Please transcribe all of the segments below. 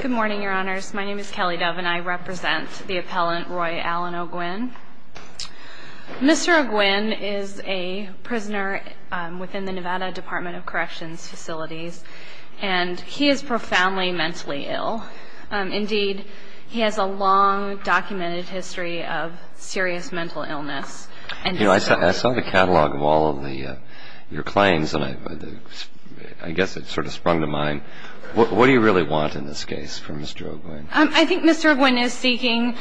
Good morning, your honors. My name is Kelly Dove, and I represent the appellant Roy Allen O'Guinn. Mr. O'Guinn is a prisoner within the Nevada Department of Corrections facilities, and he is profoundly mentally ill. Indeed, he has a long documented history of serious mental illness. I saw the catalog of all of your claims, and I guess it sort of sprung to mind. What do you really want in this case for Mr. O'Guinn? I think Mr. O'Guinn is seeking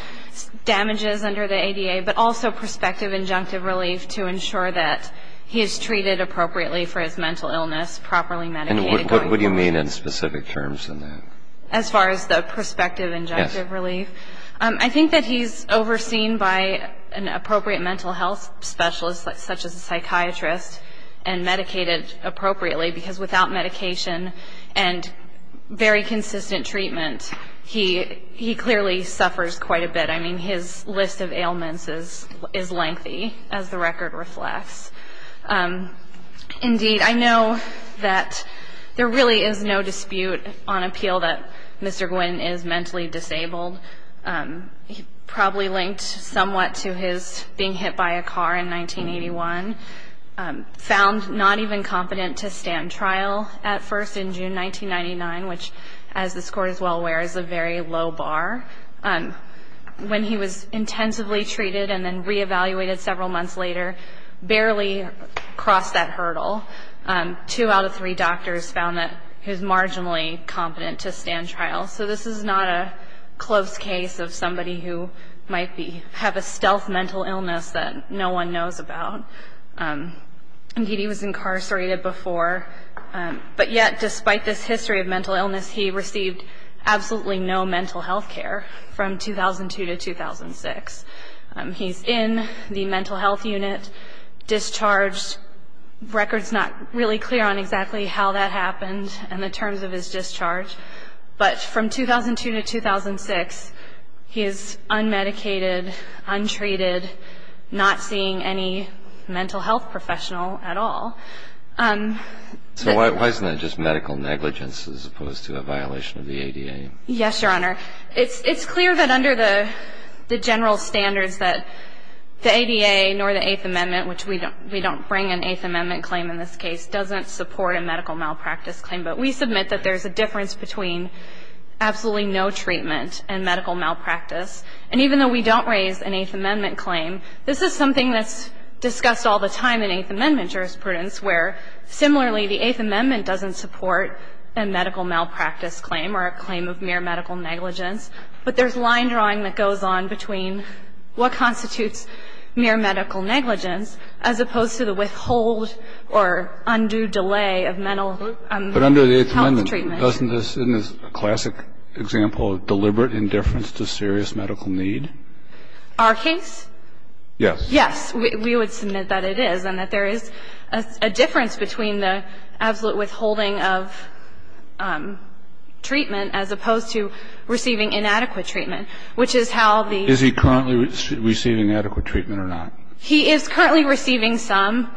damages under the ADA, but also prospective injunctive relief to ensure that he is treated appropriately for his mental illness, properly medicated going forward. And what do you mean in specific terms in that? As far as the prospective injunctive relief? Yes. I think that he's overseen by an appropriate mental health specialist, such as a psychiatrist, and medicated appropriately, because without medication and very consistent treatment, he clearly suffers quite a bit. I mean, his list of ailments is lengthy, as the record reflects. Indeed, I know that there really is no dispute on appeal that Mr. O'Guinn is mentally disabled. Probably linked somewhat to his being hit by a car in 1981. Found not even competent to stand trial at first in June 1999, which, as the score is well aware, is a very low bar. When he was intensively treated and then reevaluated several months later, barely crossed that hurdle. Two out of three doctors found that he was marginally competent to stand trial. So this is not a close case of somebody who might have a stealth mental illness that no one knows about. Indeed, he was incarcerated before. But yet, despite this history of mental illness, he received absolutely no mental health care from 2002 to 2006. He's in the mental health unit, discharged. The record's not really clear on exactly how that happened and the terms of his discharge. But from 2002 to 2006, he is unmedicated, untreated, not seeing any mental health professional at all. So why isn't that just medical negligence as opposed to a violation of the ADA? Yes, Your Honor. It's clear that under the general standards that the ADA nor the Eighth Amendment, which we don't bring an Eighth Amendment claim in this case, doesn't support a medical malpractice claim. But we submit that there's a difference between absolutely no treatment and medical malpractice. And even though we don't raise an Eighth Amendment claim, this is something that's discussed all the time in Eighth Amendment jurisprudence where, similarly, the Eighth Amendment doesn't support a medical malpractice claim or a claim of mere medical negligence. But there's line drawing that goes on between what constitutes mere medical negligence as opposed to the withhold or undue delay of mental health treatment. But under the Eighth Amendment, doesn't this, in the classic example, deliberate indifference to serious medical need? Our case? Yes. Yes. We would submit that it is and that there is a difference between the absolute withholding of treatment as opposed to receiving inadequate treatment, which is how the ---- Is he currently receiving adequate treatment or not? He is currently receiving some.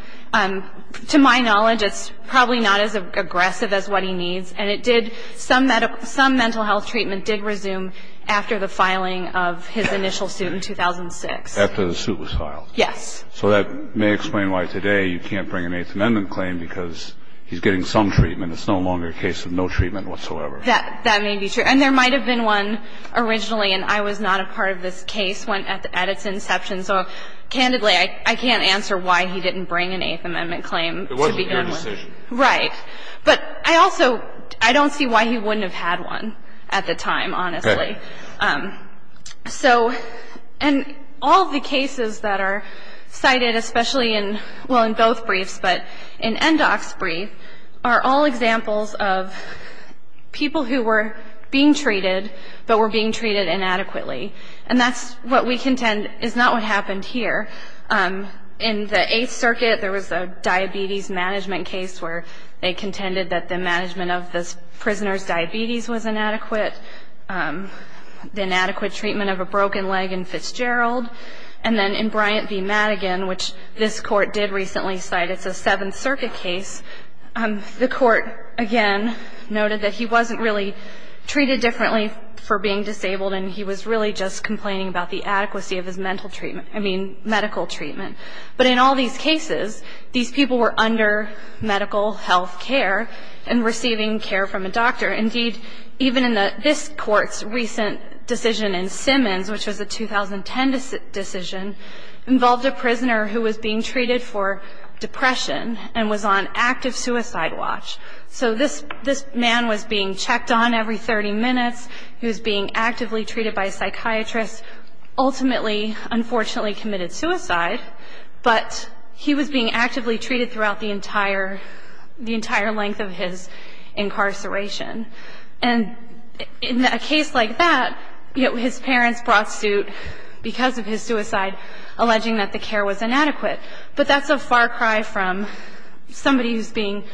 To my knowledge, it's probably not as aggressive as what he needs. And it did ---- some mental health treatment did resume after the filing of his initial suit in 2006. After the suit was filed? Yes. So that may explain why today you can't bring an Eighth Amendment claim because he's getting some treatment. It's no longer a case of no treatment whatsoever. That may be true. And there might have been one originally, and I was not a part of this case at its inception. So, candidly, I can't answer why he didn't bring an Eighth Amendment claim to begin with. It wasn't your decision. Right. But I also ---- I don't see why he wouldn't have had one at the time, honestly. Okay. So ---- and all of the cases that are cited, especially in ---- well, in both briefs, but in NDOC's brief, are all examples of people who were being treated, but were being treated inadequately. And that's what we contend is not what happened here. In the Eighth Circuit, there was a diabetes management case where they contended that the management of this prisoner's diabetes was inadequate, the inadequate treatment of a broken leg in Fitzgerald. And then in Bryant v. Madigan, which this Court did recently cite, it's a Seventh Circuit case, the Court, again, noted that he wasn't really treated differently for being disabled and he was really just complaining about the adequacy of his mental treatment, I mean, medical treatment. But in all these cases, these people were under medical health care and receiving care from a doctor. Indeed, even in this Court's recent decision in Simmons, which was a 2010 decision, involved a prisoner who was being treated for depression and was on active suicide watch. So this man was being checked on every 30 minutes. He was being actively treated by a psychiatrist. Ultimately, unfortunately, committed suicide, but he was being actively treated throughout the entire length of his incarceration. And in a case like that, his parents brought suit because of his suicide, alleging that the care was inadequate. But that's a far cry from somebody who's being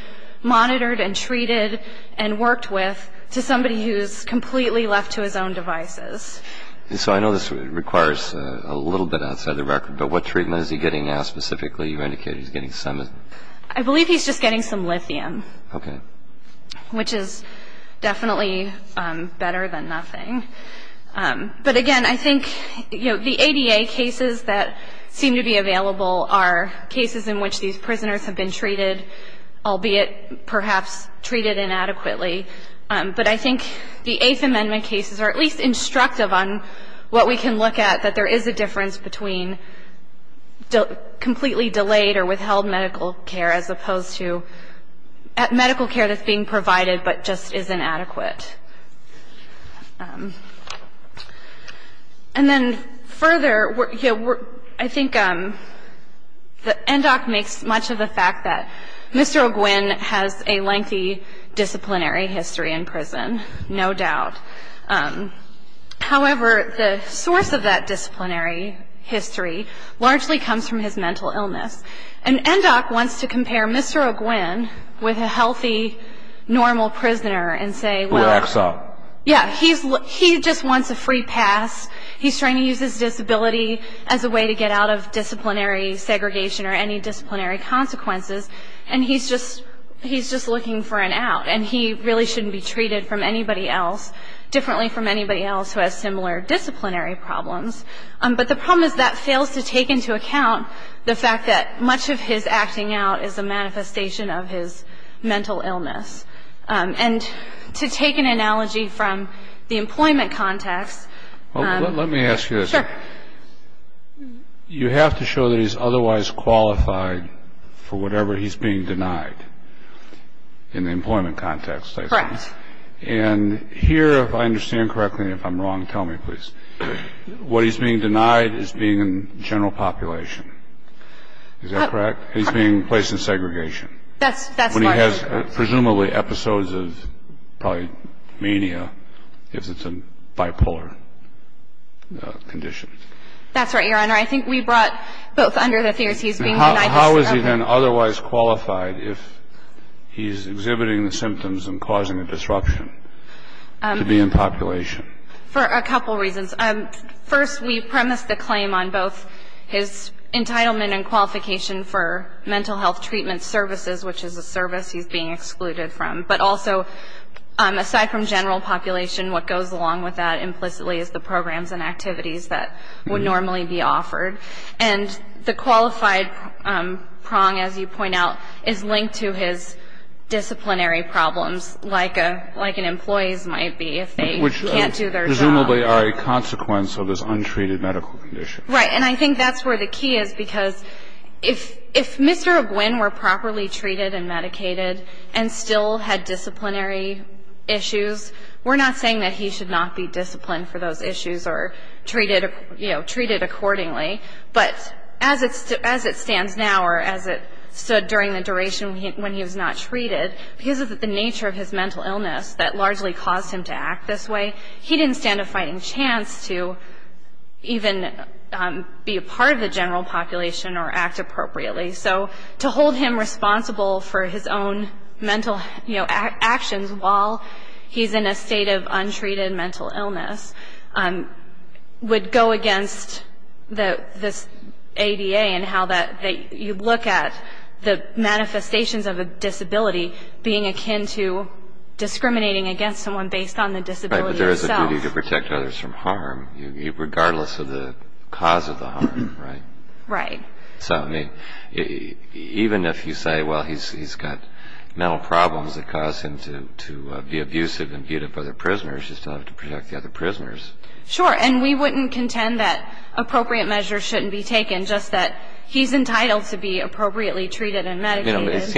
monitored and treated and worked with to somebody who's completely left to his own devices. And so I know this requires a little bit outside the record, but what treatment is he getting now specifically? You indicated he's getting Simmons. I believe he's just getting some lithium. Okay. Which is definitely better than nothing. But, again, I think the ADA cases that seem to be available are cases in which these prisoners have been treated, albeit perhaps treated inadequately. But I think the Eighth Amendment cases are at least instructive on what we can look at, that there is a difference between completely delayed or withheld medical care as opposed to medical care that's being provided but just is inadequate. And then further, I think that Endock makes much of the fact that Mr. O'Gwen has a lengthy disciplinary history in prison, no doubt. However, the source of that disciplinary history largely comes from his mental illness. And Endock wants to compare Mr. O'Gwen with a healthy, normal prisoner and say, well, yeah, he just wants a free pass. He's trying to use his disability as a way to get out of disciplinary segregation or any disciplinary consequences, and he's just looking for an out. And he really shouldn't be treated from anybody else differently from anybody else who has similar disciplinary problems. But the problem is that fails to take into account the fact that much of his acting out is a manifestation of his mental illness. And to take an analogy from the employment context. Let me ask you this. Sure. You have to show that he's otherwise qualified for whatever he's being denied in the employment context, I suppose. Correct. And here, if I understand correctly, and if I'm wrong, tell me, please. What he's being denied is being in general population. Is that correct? He's being placed in segregation. That's part of it. Presumably episodes of probably mania if it's a bipolar condition. That's right, Your Honor. I think we brought both under the theories he's being denied. How is he then otherwise qualified if he's exhibiting the symptoms and causing a disruption to be in population? For a couple reasons. First, we premised the claim on both his entitlement and qualification for mental health treatment services, which is a service he's being excluded from. But also, aside from general population, what goes along with that implicitly is the programs and activities that would normally be offered. And the qualified prong, as you point out, is linked to his disciplinary problems, like an employee's might be if they can't do their job. Which presumably are a consequence of his untreated medical condition. Right. And I think that's where the key is, because if Mr. Egwin were properly treated and medicated and still had disciplinary issues, we're not saying that he should not be disciplined for those issues or treated accordingly. But as it stands now or as it stood during the duration when he was not treated, because of the nature of his mental illness that largely caused him to act this way, he didn't stand a fighting chance to even be a part of the general population or act appropriately. So to hold him responsible for his own mental actions while he's in a state of untreated mental illness would go against this ADA and how you look at the manifestations of a disability being akin to discriminating against someone based on the disability itself. But there is a duty to protect others from harm, regardless of the cause of the harm, right? Right. So even if you say, well, he's got mental problems that cause him to be abusive and beat up other prisoners, you still have to protect the other prisoners. Sure. And we wouldn't contend that appropriate measures shouldn't be taken, just that he's entitled to be appropriately treated and medicated. Meds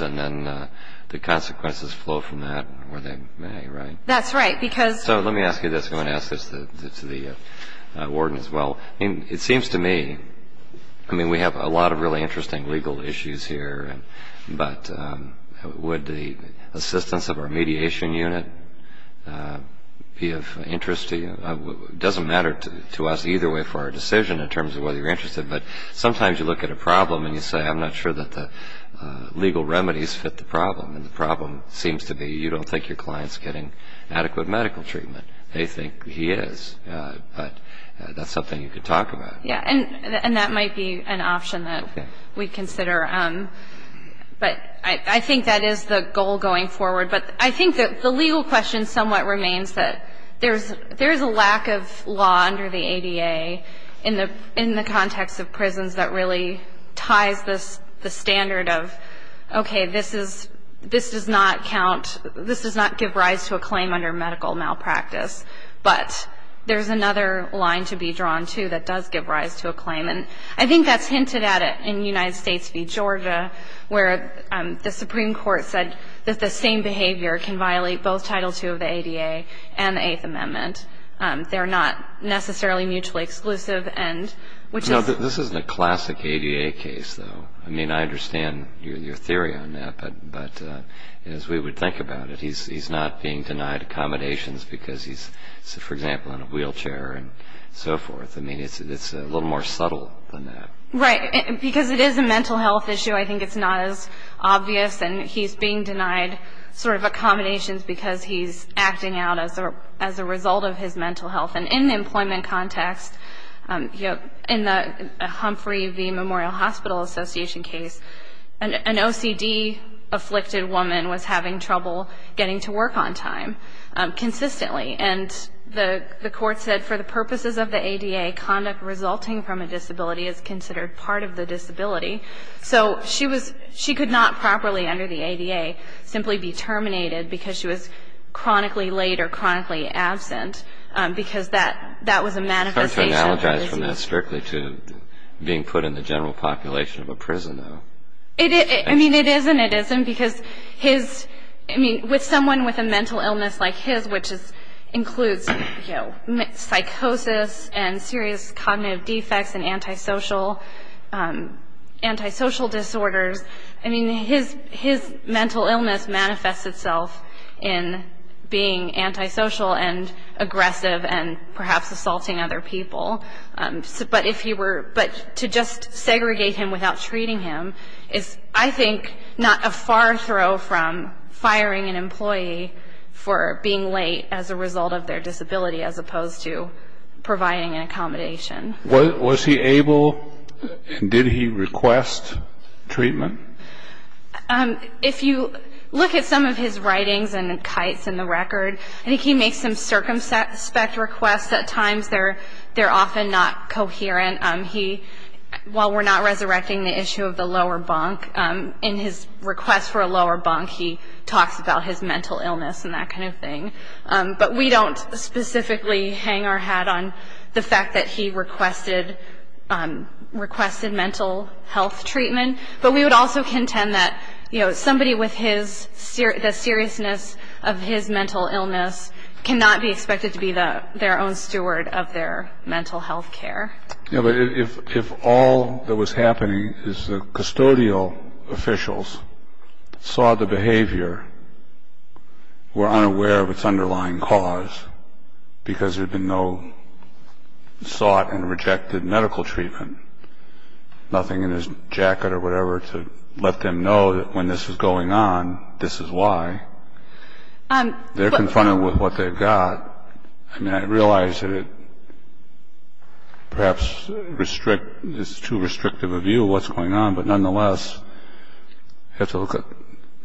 and then the consequences flow from that where they may, right? That's right, because So let me ask you this. I'm going to ask this to the warden as well. It seems to me, I mean, we have a lot of really interesting legal issues here, but would the assistance of our mediation unit be of interest to you? It doesn't matter to us either way for our decision in terms of whether you're interested, but sometimes you look at a problem and you say, I'm not sure that the legal remedies fit the problem, and the problem seems to be you don't think your client's getting adequate medical treatment. They think he is, but that's something you could talk about. Yeah, and that might be an option that we'd consider, but I think that is the goal going forward. But I think that the legal question somewhat remains that there is a lack of law under the ADA in the context of prisons that really ties the standard of, okay, this does not give rise to a claim under medical malpractice, but there's another line to be drawn, too, that does give rise to a claim, and I think that's hinted at in United States v. Georgia, where the Supreme Court said that the same behavior can violate both Title II of the ADA and the Eighth Amendment. They're not necessarily mutually exclusive. No, this isn't a classic ADA case, though. I mean, I understand your theory on that, but as we would think about it, he's not being denied accommodations because he's, for example, in a wheelchair and so forth. I mean, it's a little more subtle than that. Right, because it is a mental health issue. I think it's not as obvious, and he's being denied sort of accommodations because he's acting out as a result of his mental health. And in the employment context, in the Humphrey v. Memorial Hospital Association case, an OCD-afflicted woman was having trouble getting to work on time consistently, and the court said for the purposes of the ADA, conduct resulting from a disability is considered part of the disability. So she could not properly, under the ADA, simply be terminated because she was chronically late or chronically absent, because that was a manifestation of her disease. It's hard to analogize from that strictly to being put in the general population of a prison, though. I mean, it is and it isn't, because someone with a mental illness like his, which includes psychosis and serious cognitive defects and antisocial disorders, I mean, his mental illness manifests itself in being antisocial and aggressive and perhaps assaulting other people. But to just segregate him without treating him is, I think, not a far throw from firing an employee for being late as a result of their disability as opposed to providing an accommodation. Was he able and did he request treatment? If you look at some of his writings and the kites in the record, I think he makes some circumspect requests at times. They're often not coherent. While we're not resurrecting the issue of the lower bunk, in his request for a lower bunk, he talks about his mental illness and that kind of thing. But we don't specifically hang our hat on the fact that he requested mental health treatment. But we would also contend that somebody with the seriousness of his mental illness cannot be expected to be their own steward of their mental health care. But if all that was happening is the custodial officials saw the behavior, were unaware of its underlying cause because there had been no sought and rejected medical treatment, nothing in his jacket or whatever to let them know that when this is going on, this is why, they're confronted with what they've got. I mean, I realize that it perhaps is too restrictive a view of what's going on. But nonetheless, you have to look at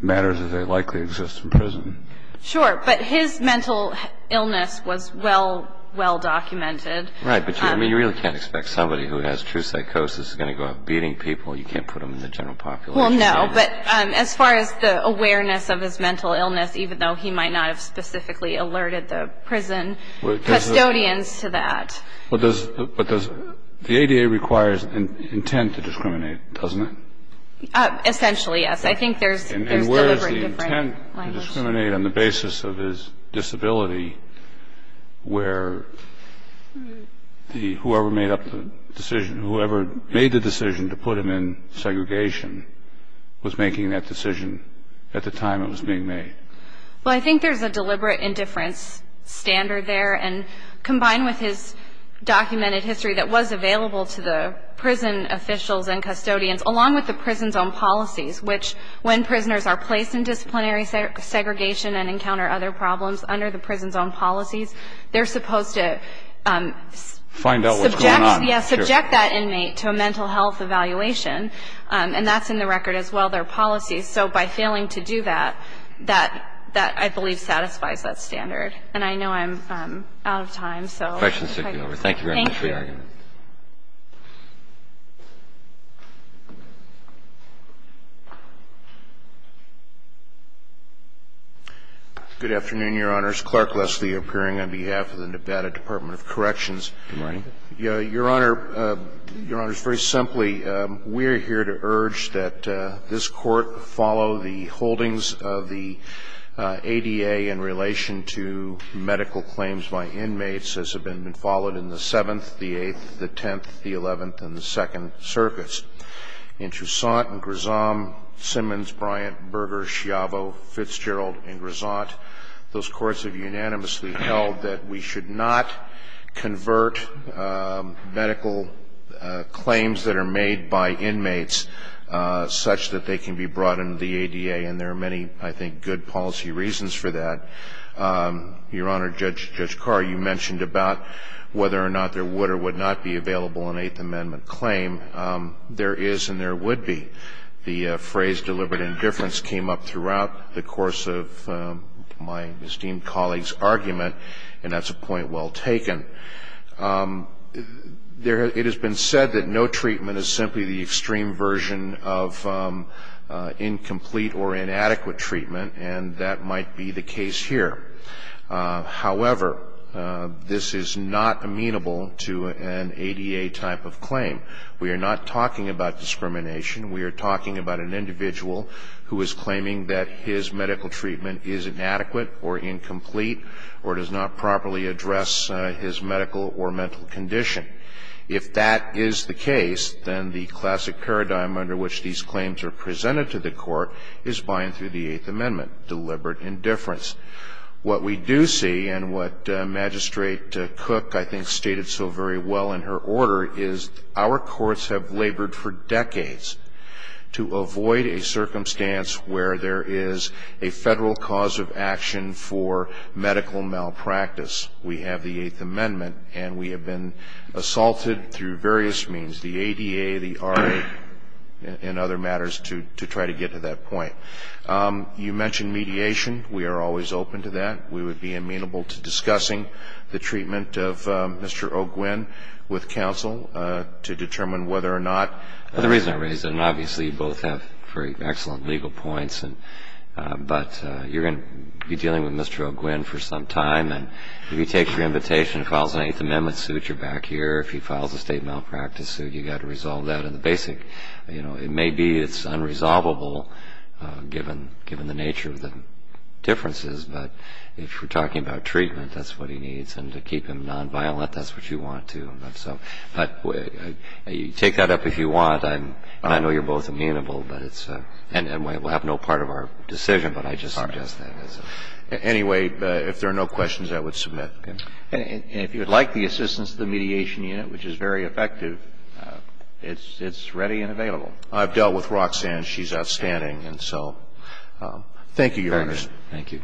matters as they likely exist in prison. Sure. But his mental illness was well, well documented. Right. But you really can't expect somebody who has true psychosis is going to go out beating people. You can't put them in the general population. Well, no. But as far as the awareness of his mental illness, even though he might not have specifically alerted the prison custodians to that. But the ADA requires intent to discriminate, doesn't it? Essentially, yes. I think there's deliberate different language. Well, I think there's a deliberate indifference standard there. And combined with his documented history that was available to the prison officials and custodians, along with the prison's own policies, which when prisoners are placed in disciplinary settings, They're not allowed to be in those settings. If they encounter segregation and encounter other problems under the prison's own policies, they're supposed to subject that inmate to a mental health evaluation. And that's in the record as well. There are policies. So by failing to do that, that I believe satisfies that standard. And I know I'm out of time. Questions? Thank you very much for your argument. Thank you. Good afternoon, Your Honors. Clark Leslie appearing on behalf of the Nevada Department of Corrections. Good morning. Your Honor, Your Honors, very simply, we're here to urge that this Court follow the holdings of the ADA in relation to medical claims by inmates as have been followed in the Seventh, the Eighth, the Tenth, the Eleventh, and the Second Circuits. In Troussant and Grisant, Simmons, Bryant, Berger, Schiavo, Fitzgerald, and Grisant, those courts have unanimously held that we should not convert medical claims that are made by inmates such that they can be brought into the ADA. And there are many, I think, good policy reasons for that. Your Honor, Judge Carr, you mentioned about whether or not there would or would not be available an Eighth Amendment claim. There is and there would be. The phrase deliberate indifference came up throughout the course of my esteemed colleague's argument, and that's a point well taken. It has been said that no treatment is simply the extreme version of incomplete or inadequate treatment, and that might be the case here. However, this is not amenable to an ADA type of claim. We are not talking about discrimination. We are talking about an individual who is claiming that his medical treatment is inadequate or incomplete or does not properly address his medical or mental condition. If that is the case, then the classic paradigm under which these claims are presented to the Court is by and through the Eighth Amendment, deliberate indifference. What we do see and what Magistrate Cook, I think, stated so very well in her order is our courts have labored for decades to avoid a circumstance where there is a Federal cause of action for medical malpractice. We have the Eighth Amendment, and we have been assaulted through various means, the ADA, the RA, and other matters to try to get to that point. You mentioned mediation. We are always open to that. We would be amenable to discussing the treatment of Mr. O'Gwen with counsel to determine whether or not. The reason I raise it, and obviously you both have very excellent legal points, but you're going to be dealing with Mr. O'Gwen for some time, and if he takes your invitation and files an Eighth Amendment suit, you're back here. If he files a State malpractice suit, you've got to resolve that. And the basic, you know, it may be it's unresolvable given the nature of the differences, but if we're talking about treatment, that's what he needs. And to keep him nonviolent, that's what you want to. But you take that up if you want. I know you're both amenable, but it's and we'll have no part of our decision, but I just suggest that. Anyway, if there are no questions, I would submit. And if you would like the assistance of the Mediation Unit, which is very effective, it's ready and available. I've dealt with Roxanne. She's outstanding. And so thank you, Your Honor. Thank you.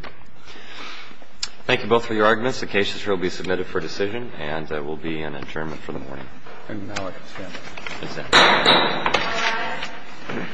Thank you both for your arguments. The case will be submitted for decision and there will be an adjournment for the morning. And now I can stand. Yes, sir. All rise.